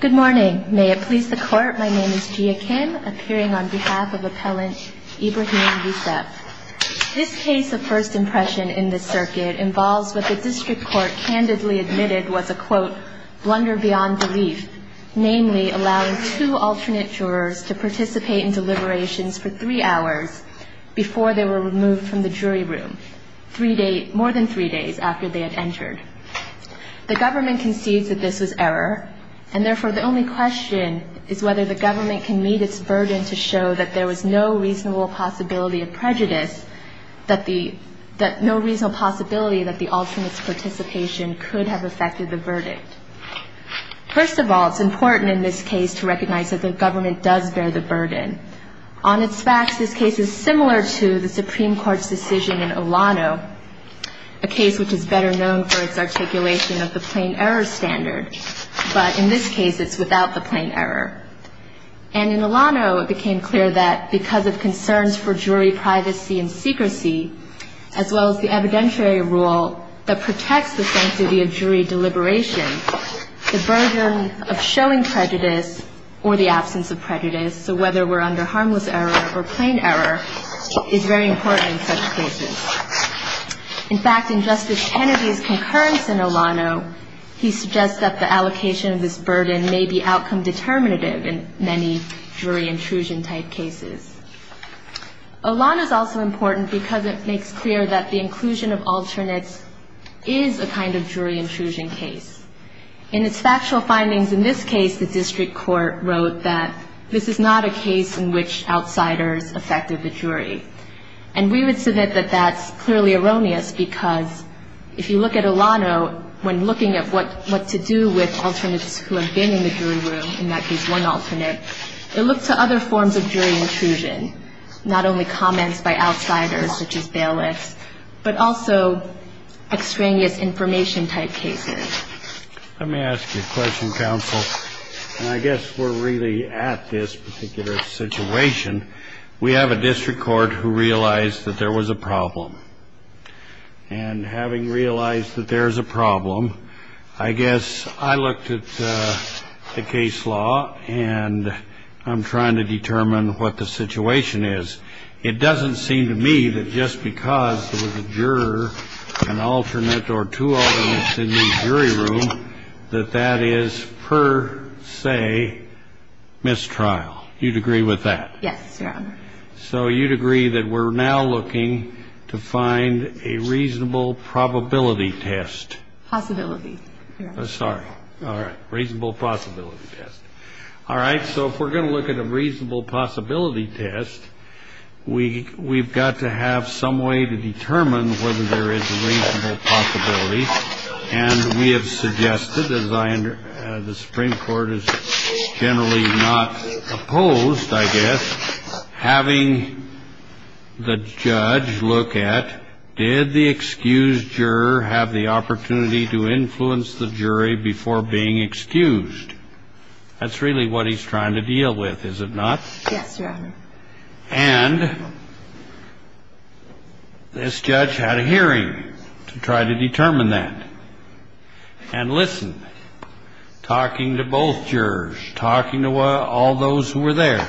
Good morning. May it please the court, my name is Jia Kim, appearing on behalf of Appellant Ibrahim Yousef. This case of first impression in this circuit involves what the district court candidly admitted was a quote, blunder beyond belief, namely allowing two alternate jurors to participate in deliberations for three hours before they were removed from the jury room, more than three days after they had entered. The government concedes that this was error, and therefore the only question is whether the government can meet its burden to show that there was no reasonable possibility of prejudice, that the, that no reasonable possibility that the alternate's participation could have affected the verdict. First of all, it's important in this case to recognize that the government does bear the burden. On its facts, this case is similar to the Supreme Court's decision in Olano, a case which is better known for its articulation of the plain error standard, but in this case it's without the plain error. And in Olano, it became clear that because of concerns for jury privacy and secrecy, as well as the evidentiary rule that protects the sanctity of jury deliberation, the burden of showing prejudice or the absence of prejudice, so whether we're under harmless error or plain error, is very important in such cases. In fact, in Justice Kennedy's concurrence in Olano, he suggests that the allocation of this burden may be outcome determinative in many jury intrusion type cases. Olano's also important because it makes clear that the inclusion of alternates is a kind of jury intrusion case. In its factual findings in this case, the district court wrote that this is not a case in which outsiders affected the jury. And we would submit that that's clearly erroneous because if you look at Olano, when looking at what to do with alternates who have been in the jury room, in that case one alternate, it looks to other forms of jury intrusion, not only comments by outsiders, such as bailiffs, but also extraneous information type cases. Let me ask you a question, counsel. And I guess we're really at this particular situation. We have a district court who realized that there was a problem. And having realized that there's a problem, I guess I looked at the case law and I'm trying to determine what the situation is. It doesn't seem to me that just because there was a juror, an alternate or two alternates in the jury room, that that is per se mistrial. You'd agree with that? Yes, Your Honor. So you'd agree that we're now looking to find a reasonable probability test? Possibility, Your Honor. Sorry. All right. Reasonable possibility test. All right. So if we're going to look at a reasonable possibility test, we've got to have some way to determine whether there is a reasonable possibility. And we have suggested, as the Supreme Court is generally not opposed, I guess, having the judge look at, did the excused juror have the opportunity to influence the jury before being excused? That's really what he's trying to deal with, is it not? Yes, Your Honor. And this judge had a hearing to try to determine that. And listen, talking to both jurors, talking to all those who were there,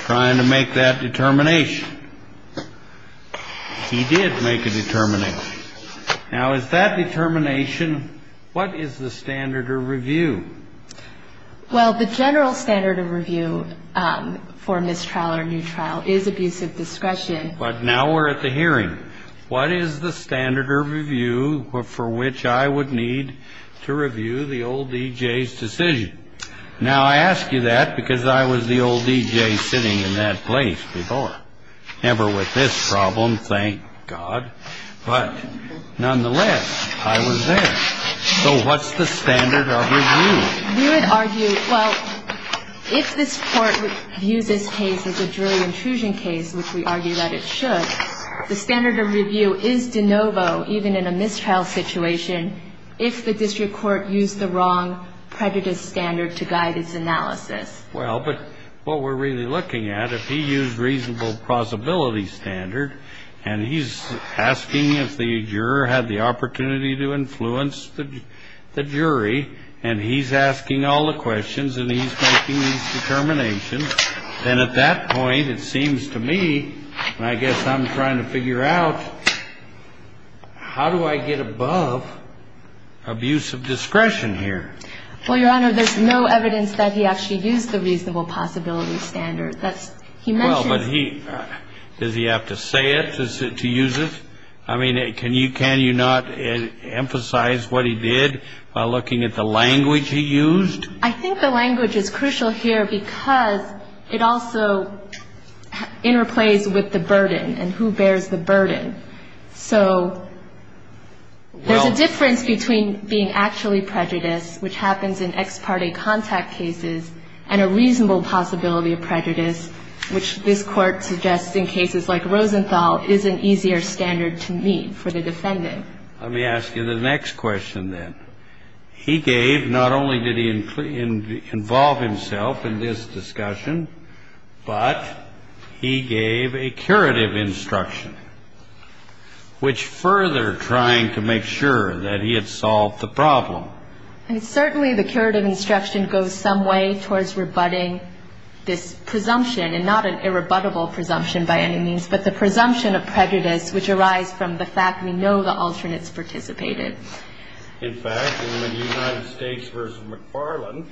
trying to make that determination. He did make a determination. Now, is that determination, what is the standard of review? Well, the general standard of review for mistrial or new trial is abusive discretion. But now we're at the hearing. What is the standard of review for which I would need to review the old E.J.'s decision? Now, I ask you that because I was the old E.J. sitting in that place before. Never with this problem, thank God. But nonetheless, I was there. So what's the standard of review? We would argue, well, if this Court views this case as a jury intrusion case, which we argue that it should, the standard of review is de novo, even in a mistrial situation, if the district court used the wrong prejudice standard to guide its analysis. Well, but what we're really looking at, if he used reasonable plausibility standard, and he's asking if the juror had the opportunity to influence the jury, and he's asking all the questions, and he's making these determinations, then at that point, it seems to me, and I guess I'm trying to figure out, how do I get above abusive discretion here? Well, Your Honor, there's no evidence that he actually used the reasonable possibility standard. That's he mentioned. But does he have to say it to use it? I mean, can you not emphasize what he did by looking at the language he used? I think the language is crucial here because it also interplays with the burden and who bears the burden. So there's a difference between being actually prejudiced, which happens in ex parte contact cases, and a reasonable possibility of prejudice, which this Court suggests in cases like Rosenthal is an easier standard to meet for the defendant. Let me ask you the next question, then. He gave, not only did he involve himself in this discussion, but he gave a curative instruction, which further trying to make sure that he had solved the problem. And certainly the curative instruction goes some way towards rebutting this presumption, and not an irrebuttable presumption by any means, but the presumption of prejudice, which arise from the fact we know the alternates participated. In fact, in the United States v. McFarland,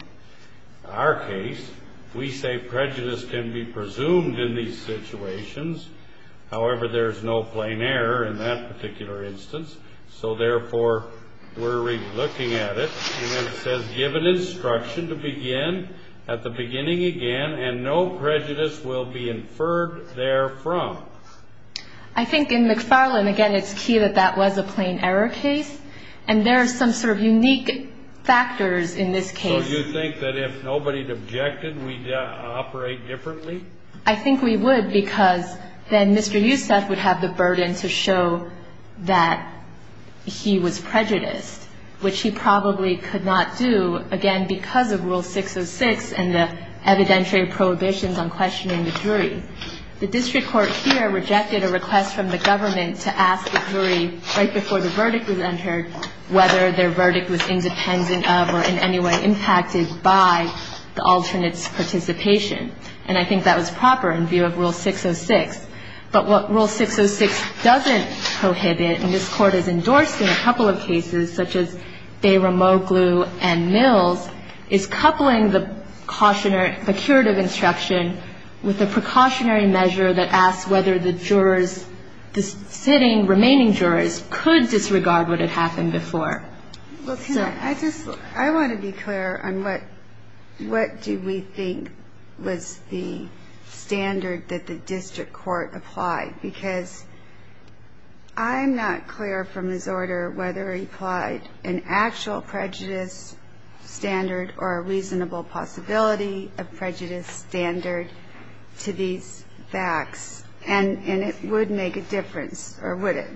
our case, we say prejudice can be presumed in these situations. However, there's no plain error in that particular instance. So therefore, we're relooking at it. And then it says, given instruction to begin at the beginning again, and no prejudice will be inferred therefrom. I think in McFarland, again, it's key that that was a plain error case. And there's some sort of unique factors in this case. So you think that if nobody objected, we'd operate differently? I think we would, because then Mr. Youssef would have the burden to show that he was prejudiced, which he probably could not do, again, because of Rule 606 and the evidentiary prohibitions on questioning the jury. The district court here rejected a request from the government to ask the jury right before the verdict was entered whether their verdict was independent of or in any way impacted by the alternate's participation. And I think that was proper in view of Rule 606. But what Rule 606 doesn't prohibit, and this Court has endorsed in a couple of cases, such as Bay-Ramoglou and Mills, is coupling the precautionary, the curative instruction with a precautionary measure that asks whether the jurors, the sitting, remaining jurors could disregard what had happened before. Well, can I just, I want to be clear on what do we think was the standard that the district court applied? Because I'm not clear from this order whether it applied an actual prejudice standard or a reasonable possibility of prejudice standard to these facts. And it would make a difference, or would it?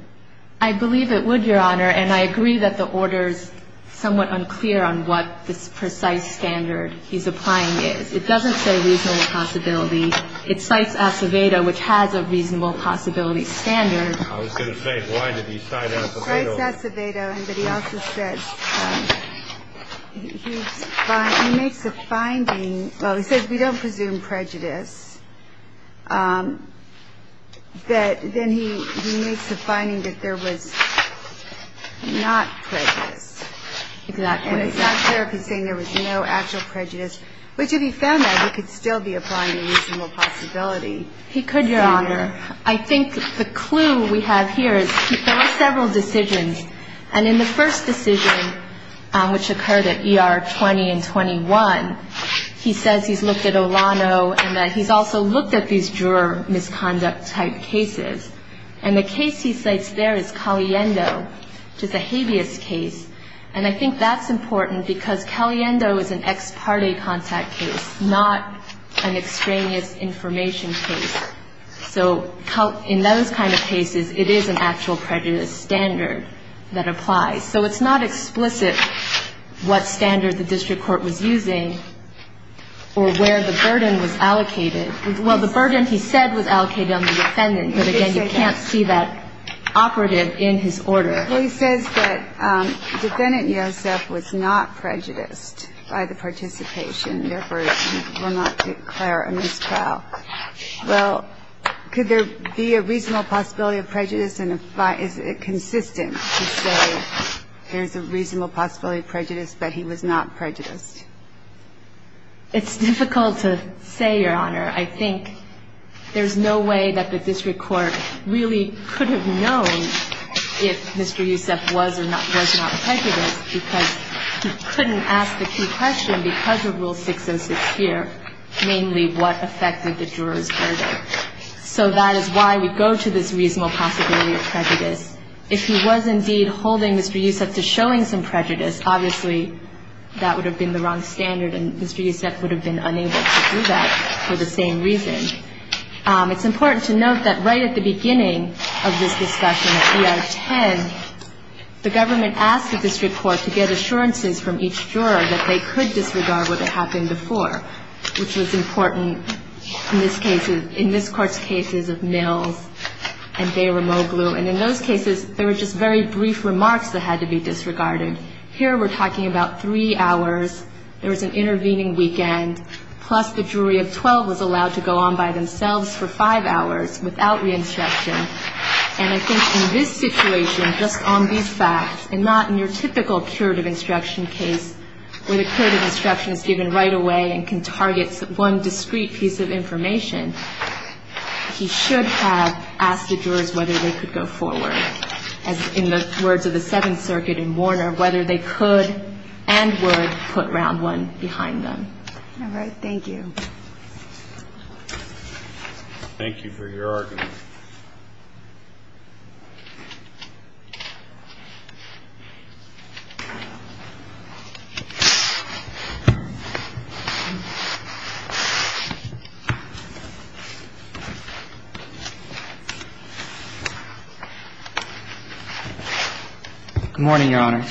I believe it would, Your Honor. And I agree that the order's somewhat unclear on what this precise standard he's applying is. It doesn't say reasonable possibility. It cites Acevedo, which has a reasonable possibility standard. I was going to say, why did he cite Acevedo? He cites Acevedo, but he also says he makes a finding, well, he says we don't presume prejudice, but then he makes a finding that there was not prejudice. Exactly. And it's not clear if he's saying there was no actual prejudice, which if he found that, he could still be applying the reasonable possibility standard. He could, Your Honor. I think the clue we have here is there were several decisions. And in the first decision, which occurred at ER 20 and 21, he says he's looked at Olano and that he's also looked at these juror misconduct-type cases. And the case he cites there is Caliendo, which is a habeas case. And I think that's important because Caliendo is an ex parte contact case, not an extraneous information case. So in those kind of cases, it is an actual prejudice standard that applies. So it's not explicit what standard the district court was using or where the burden was allocated. Well, the burden, he said, was allocated on the defendant. But, again, you can't see that operative in his order. Well, he says that Defendant Yosef was not prejudiced by the participation, therefore, he will not declare a miscrial. Well, could there be a reasonable possibility of prejudice? And is it consistent to say there's a reasonable possibility of prejudice, but he was not prejudiced? It's difficult to say, Your Honor. I think there's no way that the district court really could have known if Mr. Yosef was or was not prejudiced because he couldn't ask the key question because of Rule 606 here, namely, what affected the juror's verdict. So that is why we go to this reasonable possibility of prejudice. If he was, indeed, holding Mr. Yosef to showing some prejudice, obviously, that would have been the wrong standard and Mr. Yosef would have been unable to do that for the same reason. It's important to note that right at the beginning of this discussion, at E.R. 10, the government asked the district court to get assurances from each juror that they could disregard what had happened before, which was important in this case, in this Court's cases of Mills and Beramoglu. And in those cases, there were just very brief remarks that had to be disregarded. Here, we're talking about three hours. There was an intervening weekend. Plus, the jury of 12 was allowed to go on by themselves for five hours without re-instruction. And I think in this situation, just on these facts, and not in your typical curative instruction case where the curative instruction is given right away and can target one discrete piece of information, he should have asked the jurors whether they could go forward, as in the words of the Seventh Circuit in Warner, whether they could and would put round one behind them. All right. Thank you. Thank you for your argument. Good morning, Your Honor.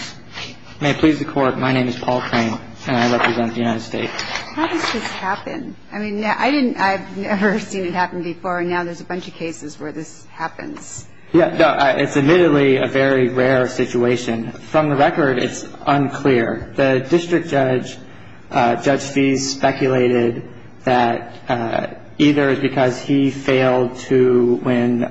May it please the Court, my name is Paul Crane, and I represent the United States. How does this happen? I mean, I didn't ñ I've never seen it happen before, and now there's a bunch of cases where this happens. Yeah. No, it's admittedly a very rare situation. From the record, it's unclear. The district judge, Judge Fease, speculated that either it's because he failed to, when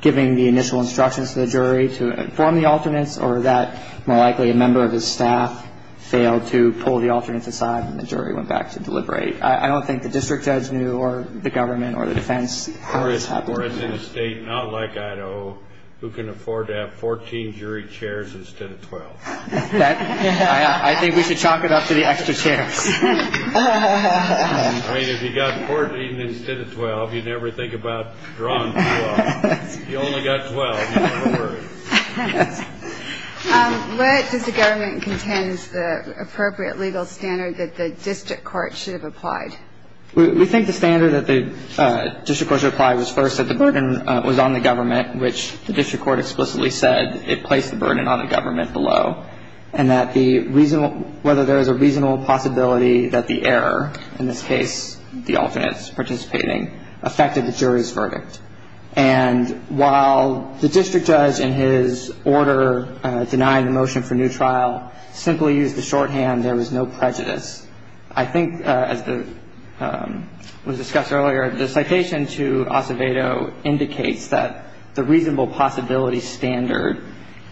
giving the initial instructions to the jury to inform the alternates, or that more likely a member of his staff failed to pull the alternates aside and the jury went back to deliberate. I don't think the district judge knew, or the government, or the defense, how this happened. Or it's in a state not like Idaho who can afford to have 14 jury chairs instead of 12. I think we should chalk it up to the extra chairs. I mean, if you've got 14 instead of 12, you never think about drawing 12. If you only got 12, you don't have to worry. Where does the government contend is the appropriate legal standard that the district court should have applied? We think the standard that the district court should have applied was first that the burden was on the government, which the district court explicitly said it placed the burden on the government below, and that the ñ whether there is a reasonable possibility that the error, in this case, And while the district judge, in his order denying the motion for new trial, simply used the shorthand, there was no prejudice. I think, as was discussed earlier, the citation to Acevedo indicates that the reasonable possibility standard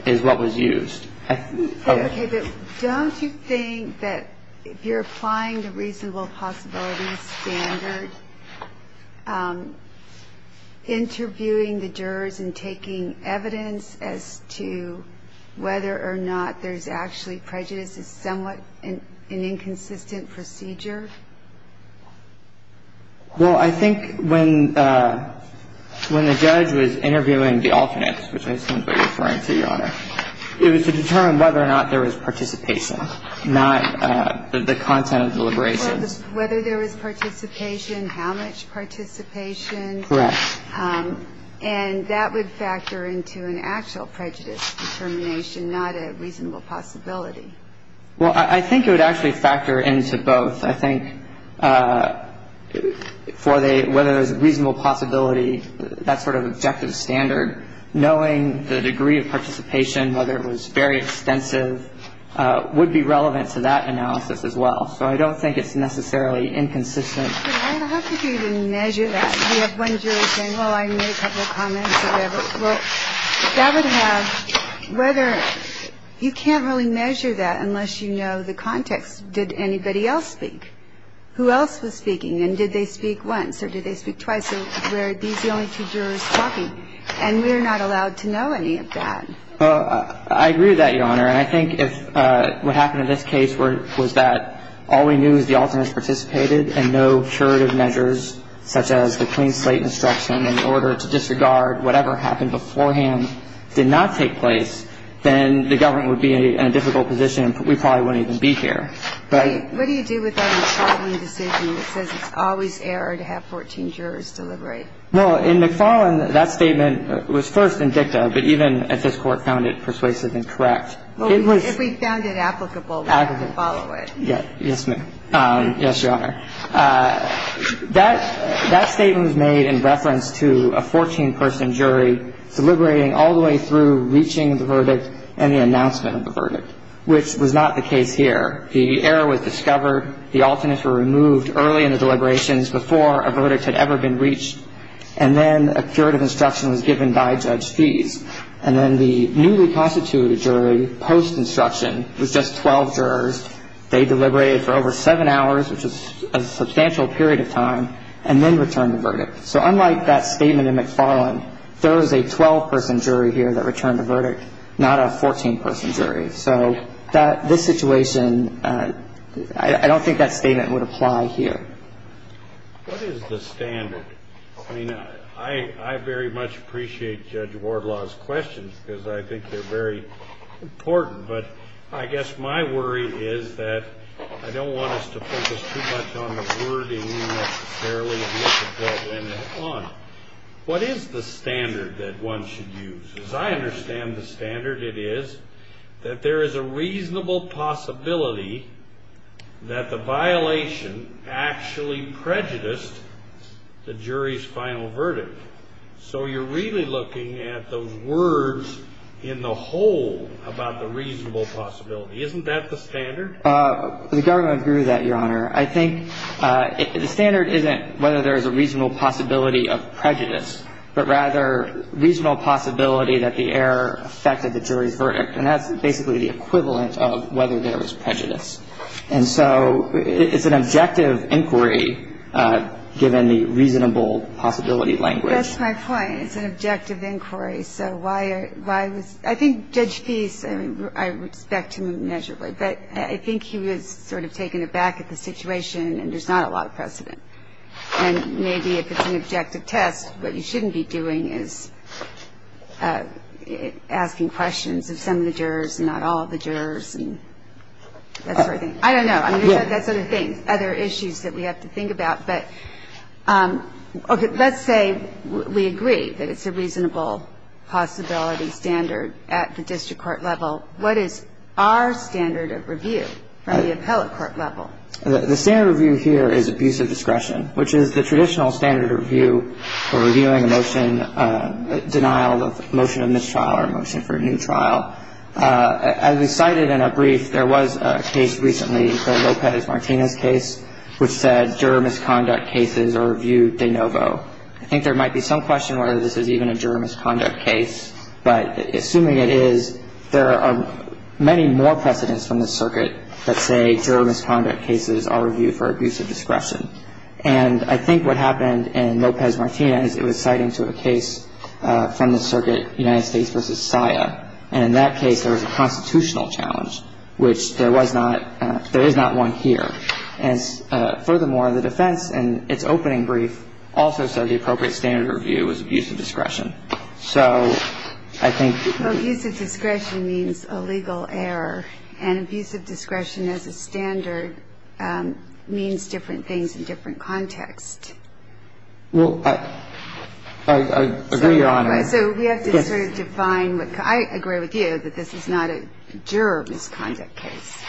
is what was used. Okay, but don't you think that if you're applying the reasonable possibility standard, interviewing the jurors and taking evidence as to whether or not there's actually prejudice is somewhat an inconsistent procedure? Well, I think when the judge was interviewing the alternates, which I assume is what you're referring to, Your Honor, it was to determine whether or not there was participation, not the content of deliberations. Whether there was participation, how much participation. Correct. And that would factor into an actual prejudice determination, not a reasonable possibility. Well, I think it would actually factor into both. I think for the ñ whether there's a reasonable possibility, that sort of objective standard, knowing the degree of participation, whether it was very extensive, would be relevant to that analysis as well. So I don't think it's necessarily inconsistent. Your Honor, how could you even measure that? You have one juror saying, well, I made a couple of comments, whatever. Well, that would have ñ whether ñ you can't really measure that unless you know the context. Well, I agree with that, Your Honor, and I think if what happened in this case was that all we knew is the alternates participated and no curative measures such as the clean slate instruction in order to disregard whatever happened beforehand did not take place, then the government would be in a difficult position, and we probably wouldn't even be here. Well, in McFarland, that statement was first in dicta, but even if this Court found it persuasive and correct. Well, if we found it applicable, we would follow it. Yes, ma'am. Yes, Your Honor. That statement was made in reference to a 14-person jury deliberating all the way through reaching the verdict and the announcement of the verdict, which was not the case here. The error was discovered, the alternates were removed early in the deliberations before a verdict had ever been reached, and then a curative instruction was given by Judge Fees. And then the newly constituted jury post-instruction was just 12 jurors. They deliberated for over seven hours, which was a substantial period of time, and then returned the verdict. So unlike that statement in McFarland, there was a 12-person jury here that returned the verdict, not a 14-person jury. So this situation, I don't think that statement would apply here. What is the standard? I mean, I very much appreciate Judge Wardlaw's questions because I think they're very important, but I guess my worry is that I don't want us to focus too much on the wording necessarily, but I do want to focus on what is the standard that one should use. As I understand the standard, it is that there is a reasonable possibility that the violation actually prejudiced the jury's final verdict. So you're really looking at those words in the whole about the reasonable possibility. Isn't that the standard? The government grew that, Your Honor. I think the standard isn't whether there is a reasonable possibility of prejudice, but rather reasonable possibility that the error affected the jury's verdict. And that's basically the equivalent of whether there was prejudice. And so it's an objective inquiry, given the reasonable possibility language. That's my point. It's an objective inquiry. So why was – I think Judge Feist, I respect him measurably, but I think he was sort of taken aback at the situation and there's not a lot of precedent. And maybe if it's an objective test, what you shouldn't be doing is asking questions of some of the jurors and not all of the jurors and that sort of thing. I don't know. I mean, that sort of thing. Other issues that we have to think about. But, okay, let's say we agree that it's a reasonable possibility standard at the district court level. What is our standard of review from the appellate court level? The standard review here is abuse of discretion, which is the traditional standard review for reviewing a motion, a denial of a motion of mistrial or a motion for a new trial. As we cited in a brief, there was a case recently, the Lopez-Martinez case, which said juror misconduct cases are reviewed de novo. I think there might be some question whether this is even a juror misconduct case, but assuming it is, there are many more precedents from the circuit that say juror misconduct cases are reviewed for abuse of discretion. And I think what happened in Lopez-Martinez, it was citing to a case from the circuit United States v. SIA, and in that case there was a constitutional challenge, which there was not – there is not one here. And furthermore, the defense in its opening brief also said the appropriate standard review was abuse of discretion. So I think – Well, abuse of discretion means a legal error, and abuse of discretion as a standard means different things in different contexts. Well, I agree, Your Honor. So we have to sort of define what – I agree with you that this is not a juror misconduct case.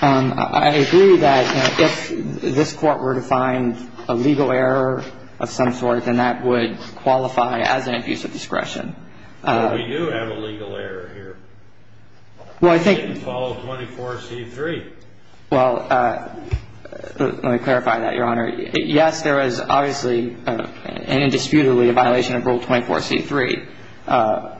I agree that if this Court were to find a legal error of some sort, then that would qualify as an abuse of discretion. But we do have a legal error here. Well, I think – It didn't follow 24C3. Well, let me clarify that, Your Honor. Yes, there is obviously and indisputably a violation of Rule 24C3.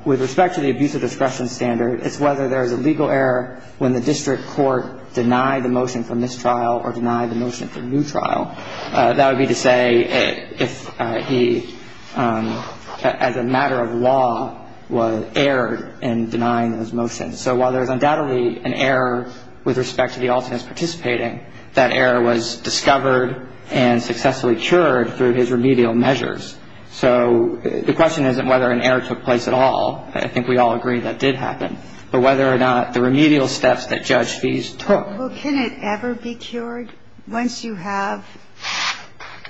With respect to the abuse of discretion standard, it's whether there is a legal error when the district court denied the motion for mistrial or denied the motion for new trial. That would be to say if he, as a matter of law, was errored in denying those motions. So while there is undoubtedly an error with respect to the alternate participating, that error was discovered and successfully cured through his remedial measures. So the question isn't whether an error took place at all. I think we all agree that did happen. But whether or not the remedial steps that Judge Fees took. Well, can it ever be cured once you have –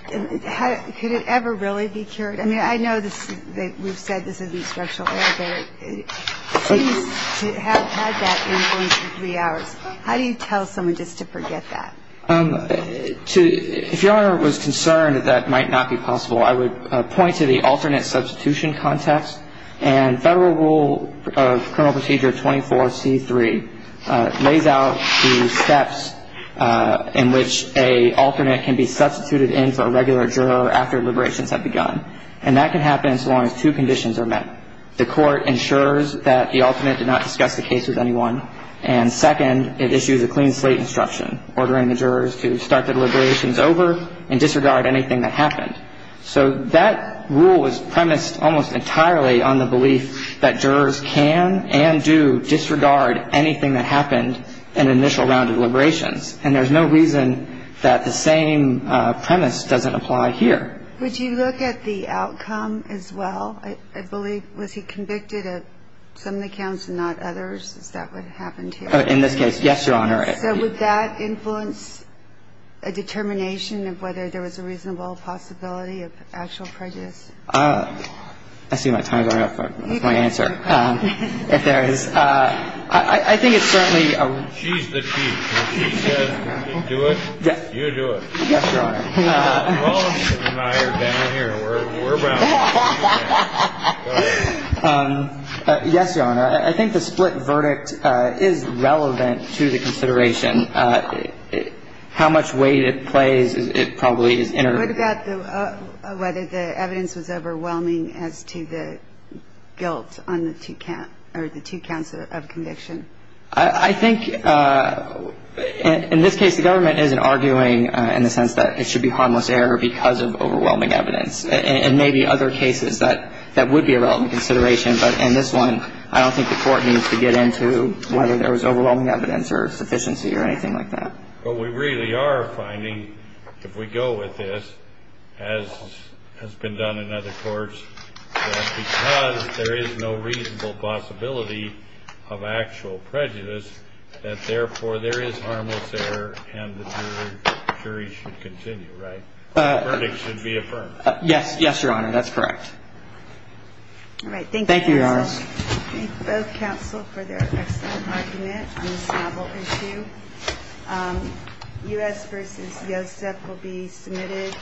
could it ever really be cured? I mean, I know that we've said this is an instructional error, but it seems to have had that influence for three hours. How do you tell someone just to forget that? If Your Honor was concerned that that might not be possible, I would point to the alternate substitution context. And Federal Rule of Criminal Procedure 24C3 lays out the steps in which a alternate can be substituted in for a regular juror after liberations have begun. And that can happen so long as two conditions are met. The court ensures that the alternate did not discuss the case with anyone. And second, it issues a clean slate instruction, ordering the jurors to start the liberations over and disregard anything that happened. So that rule is premised almost entirely on the belief that jurors can and do disregard anything that happened in initial round of liberations. And there's no reason that the same premise doesn't apply here. Would you look at the outcome as well? I believe – was he convicted of some of the counts and not others? Is that what happened here? In this case, yes, Your Honor. So would that influence a determination of whether there was a reasonable possibility of actual prejudice? I see my time is running out. That's my answer. If there is. I think it's certainly a – She's the chief. When she says do it, you do it. Yes, Your Honor. Paulson and I are down here. We're bound to do that. Yes, Your Honor. I think the split verdict is relevant to the consideration. How much weight it plays, it probably is – What about whether the evidence was overwhelming as to the guilt on the two counts of conviction? I think in this case the government isn't arguing in the sense that it should be harmless error because of overwhelming evidence. It may be other cases that would be a relevant consideration. But in this one, I don't think the Court needs to get into whether there was overwhelming evidence or sufficiency or anything like that. But we really are finding, if we go with this, as has been done in other courts, that because there is no reasonable possibility of actual prejudice, that therefore there is harmless error and the jury should continue, right? The verdict should be affirmed. Yes, Your Honor. That's correct. All right. Thank you. Thank you, Your Honor. I thank both counsel for their excellent argument on this novel issue. U.S. v. Yosef will be submitted.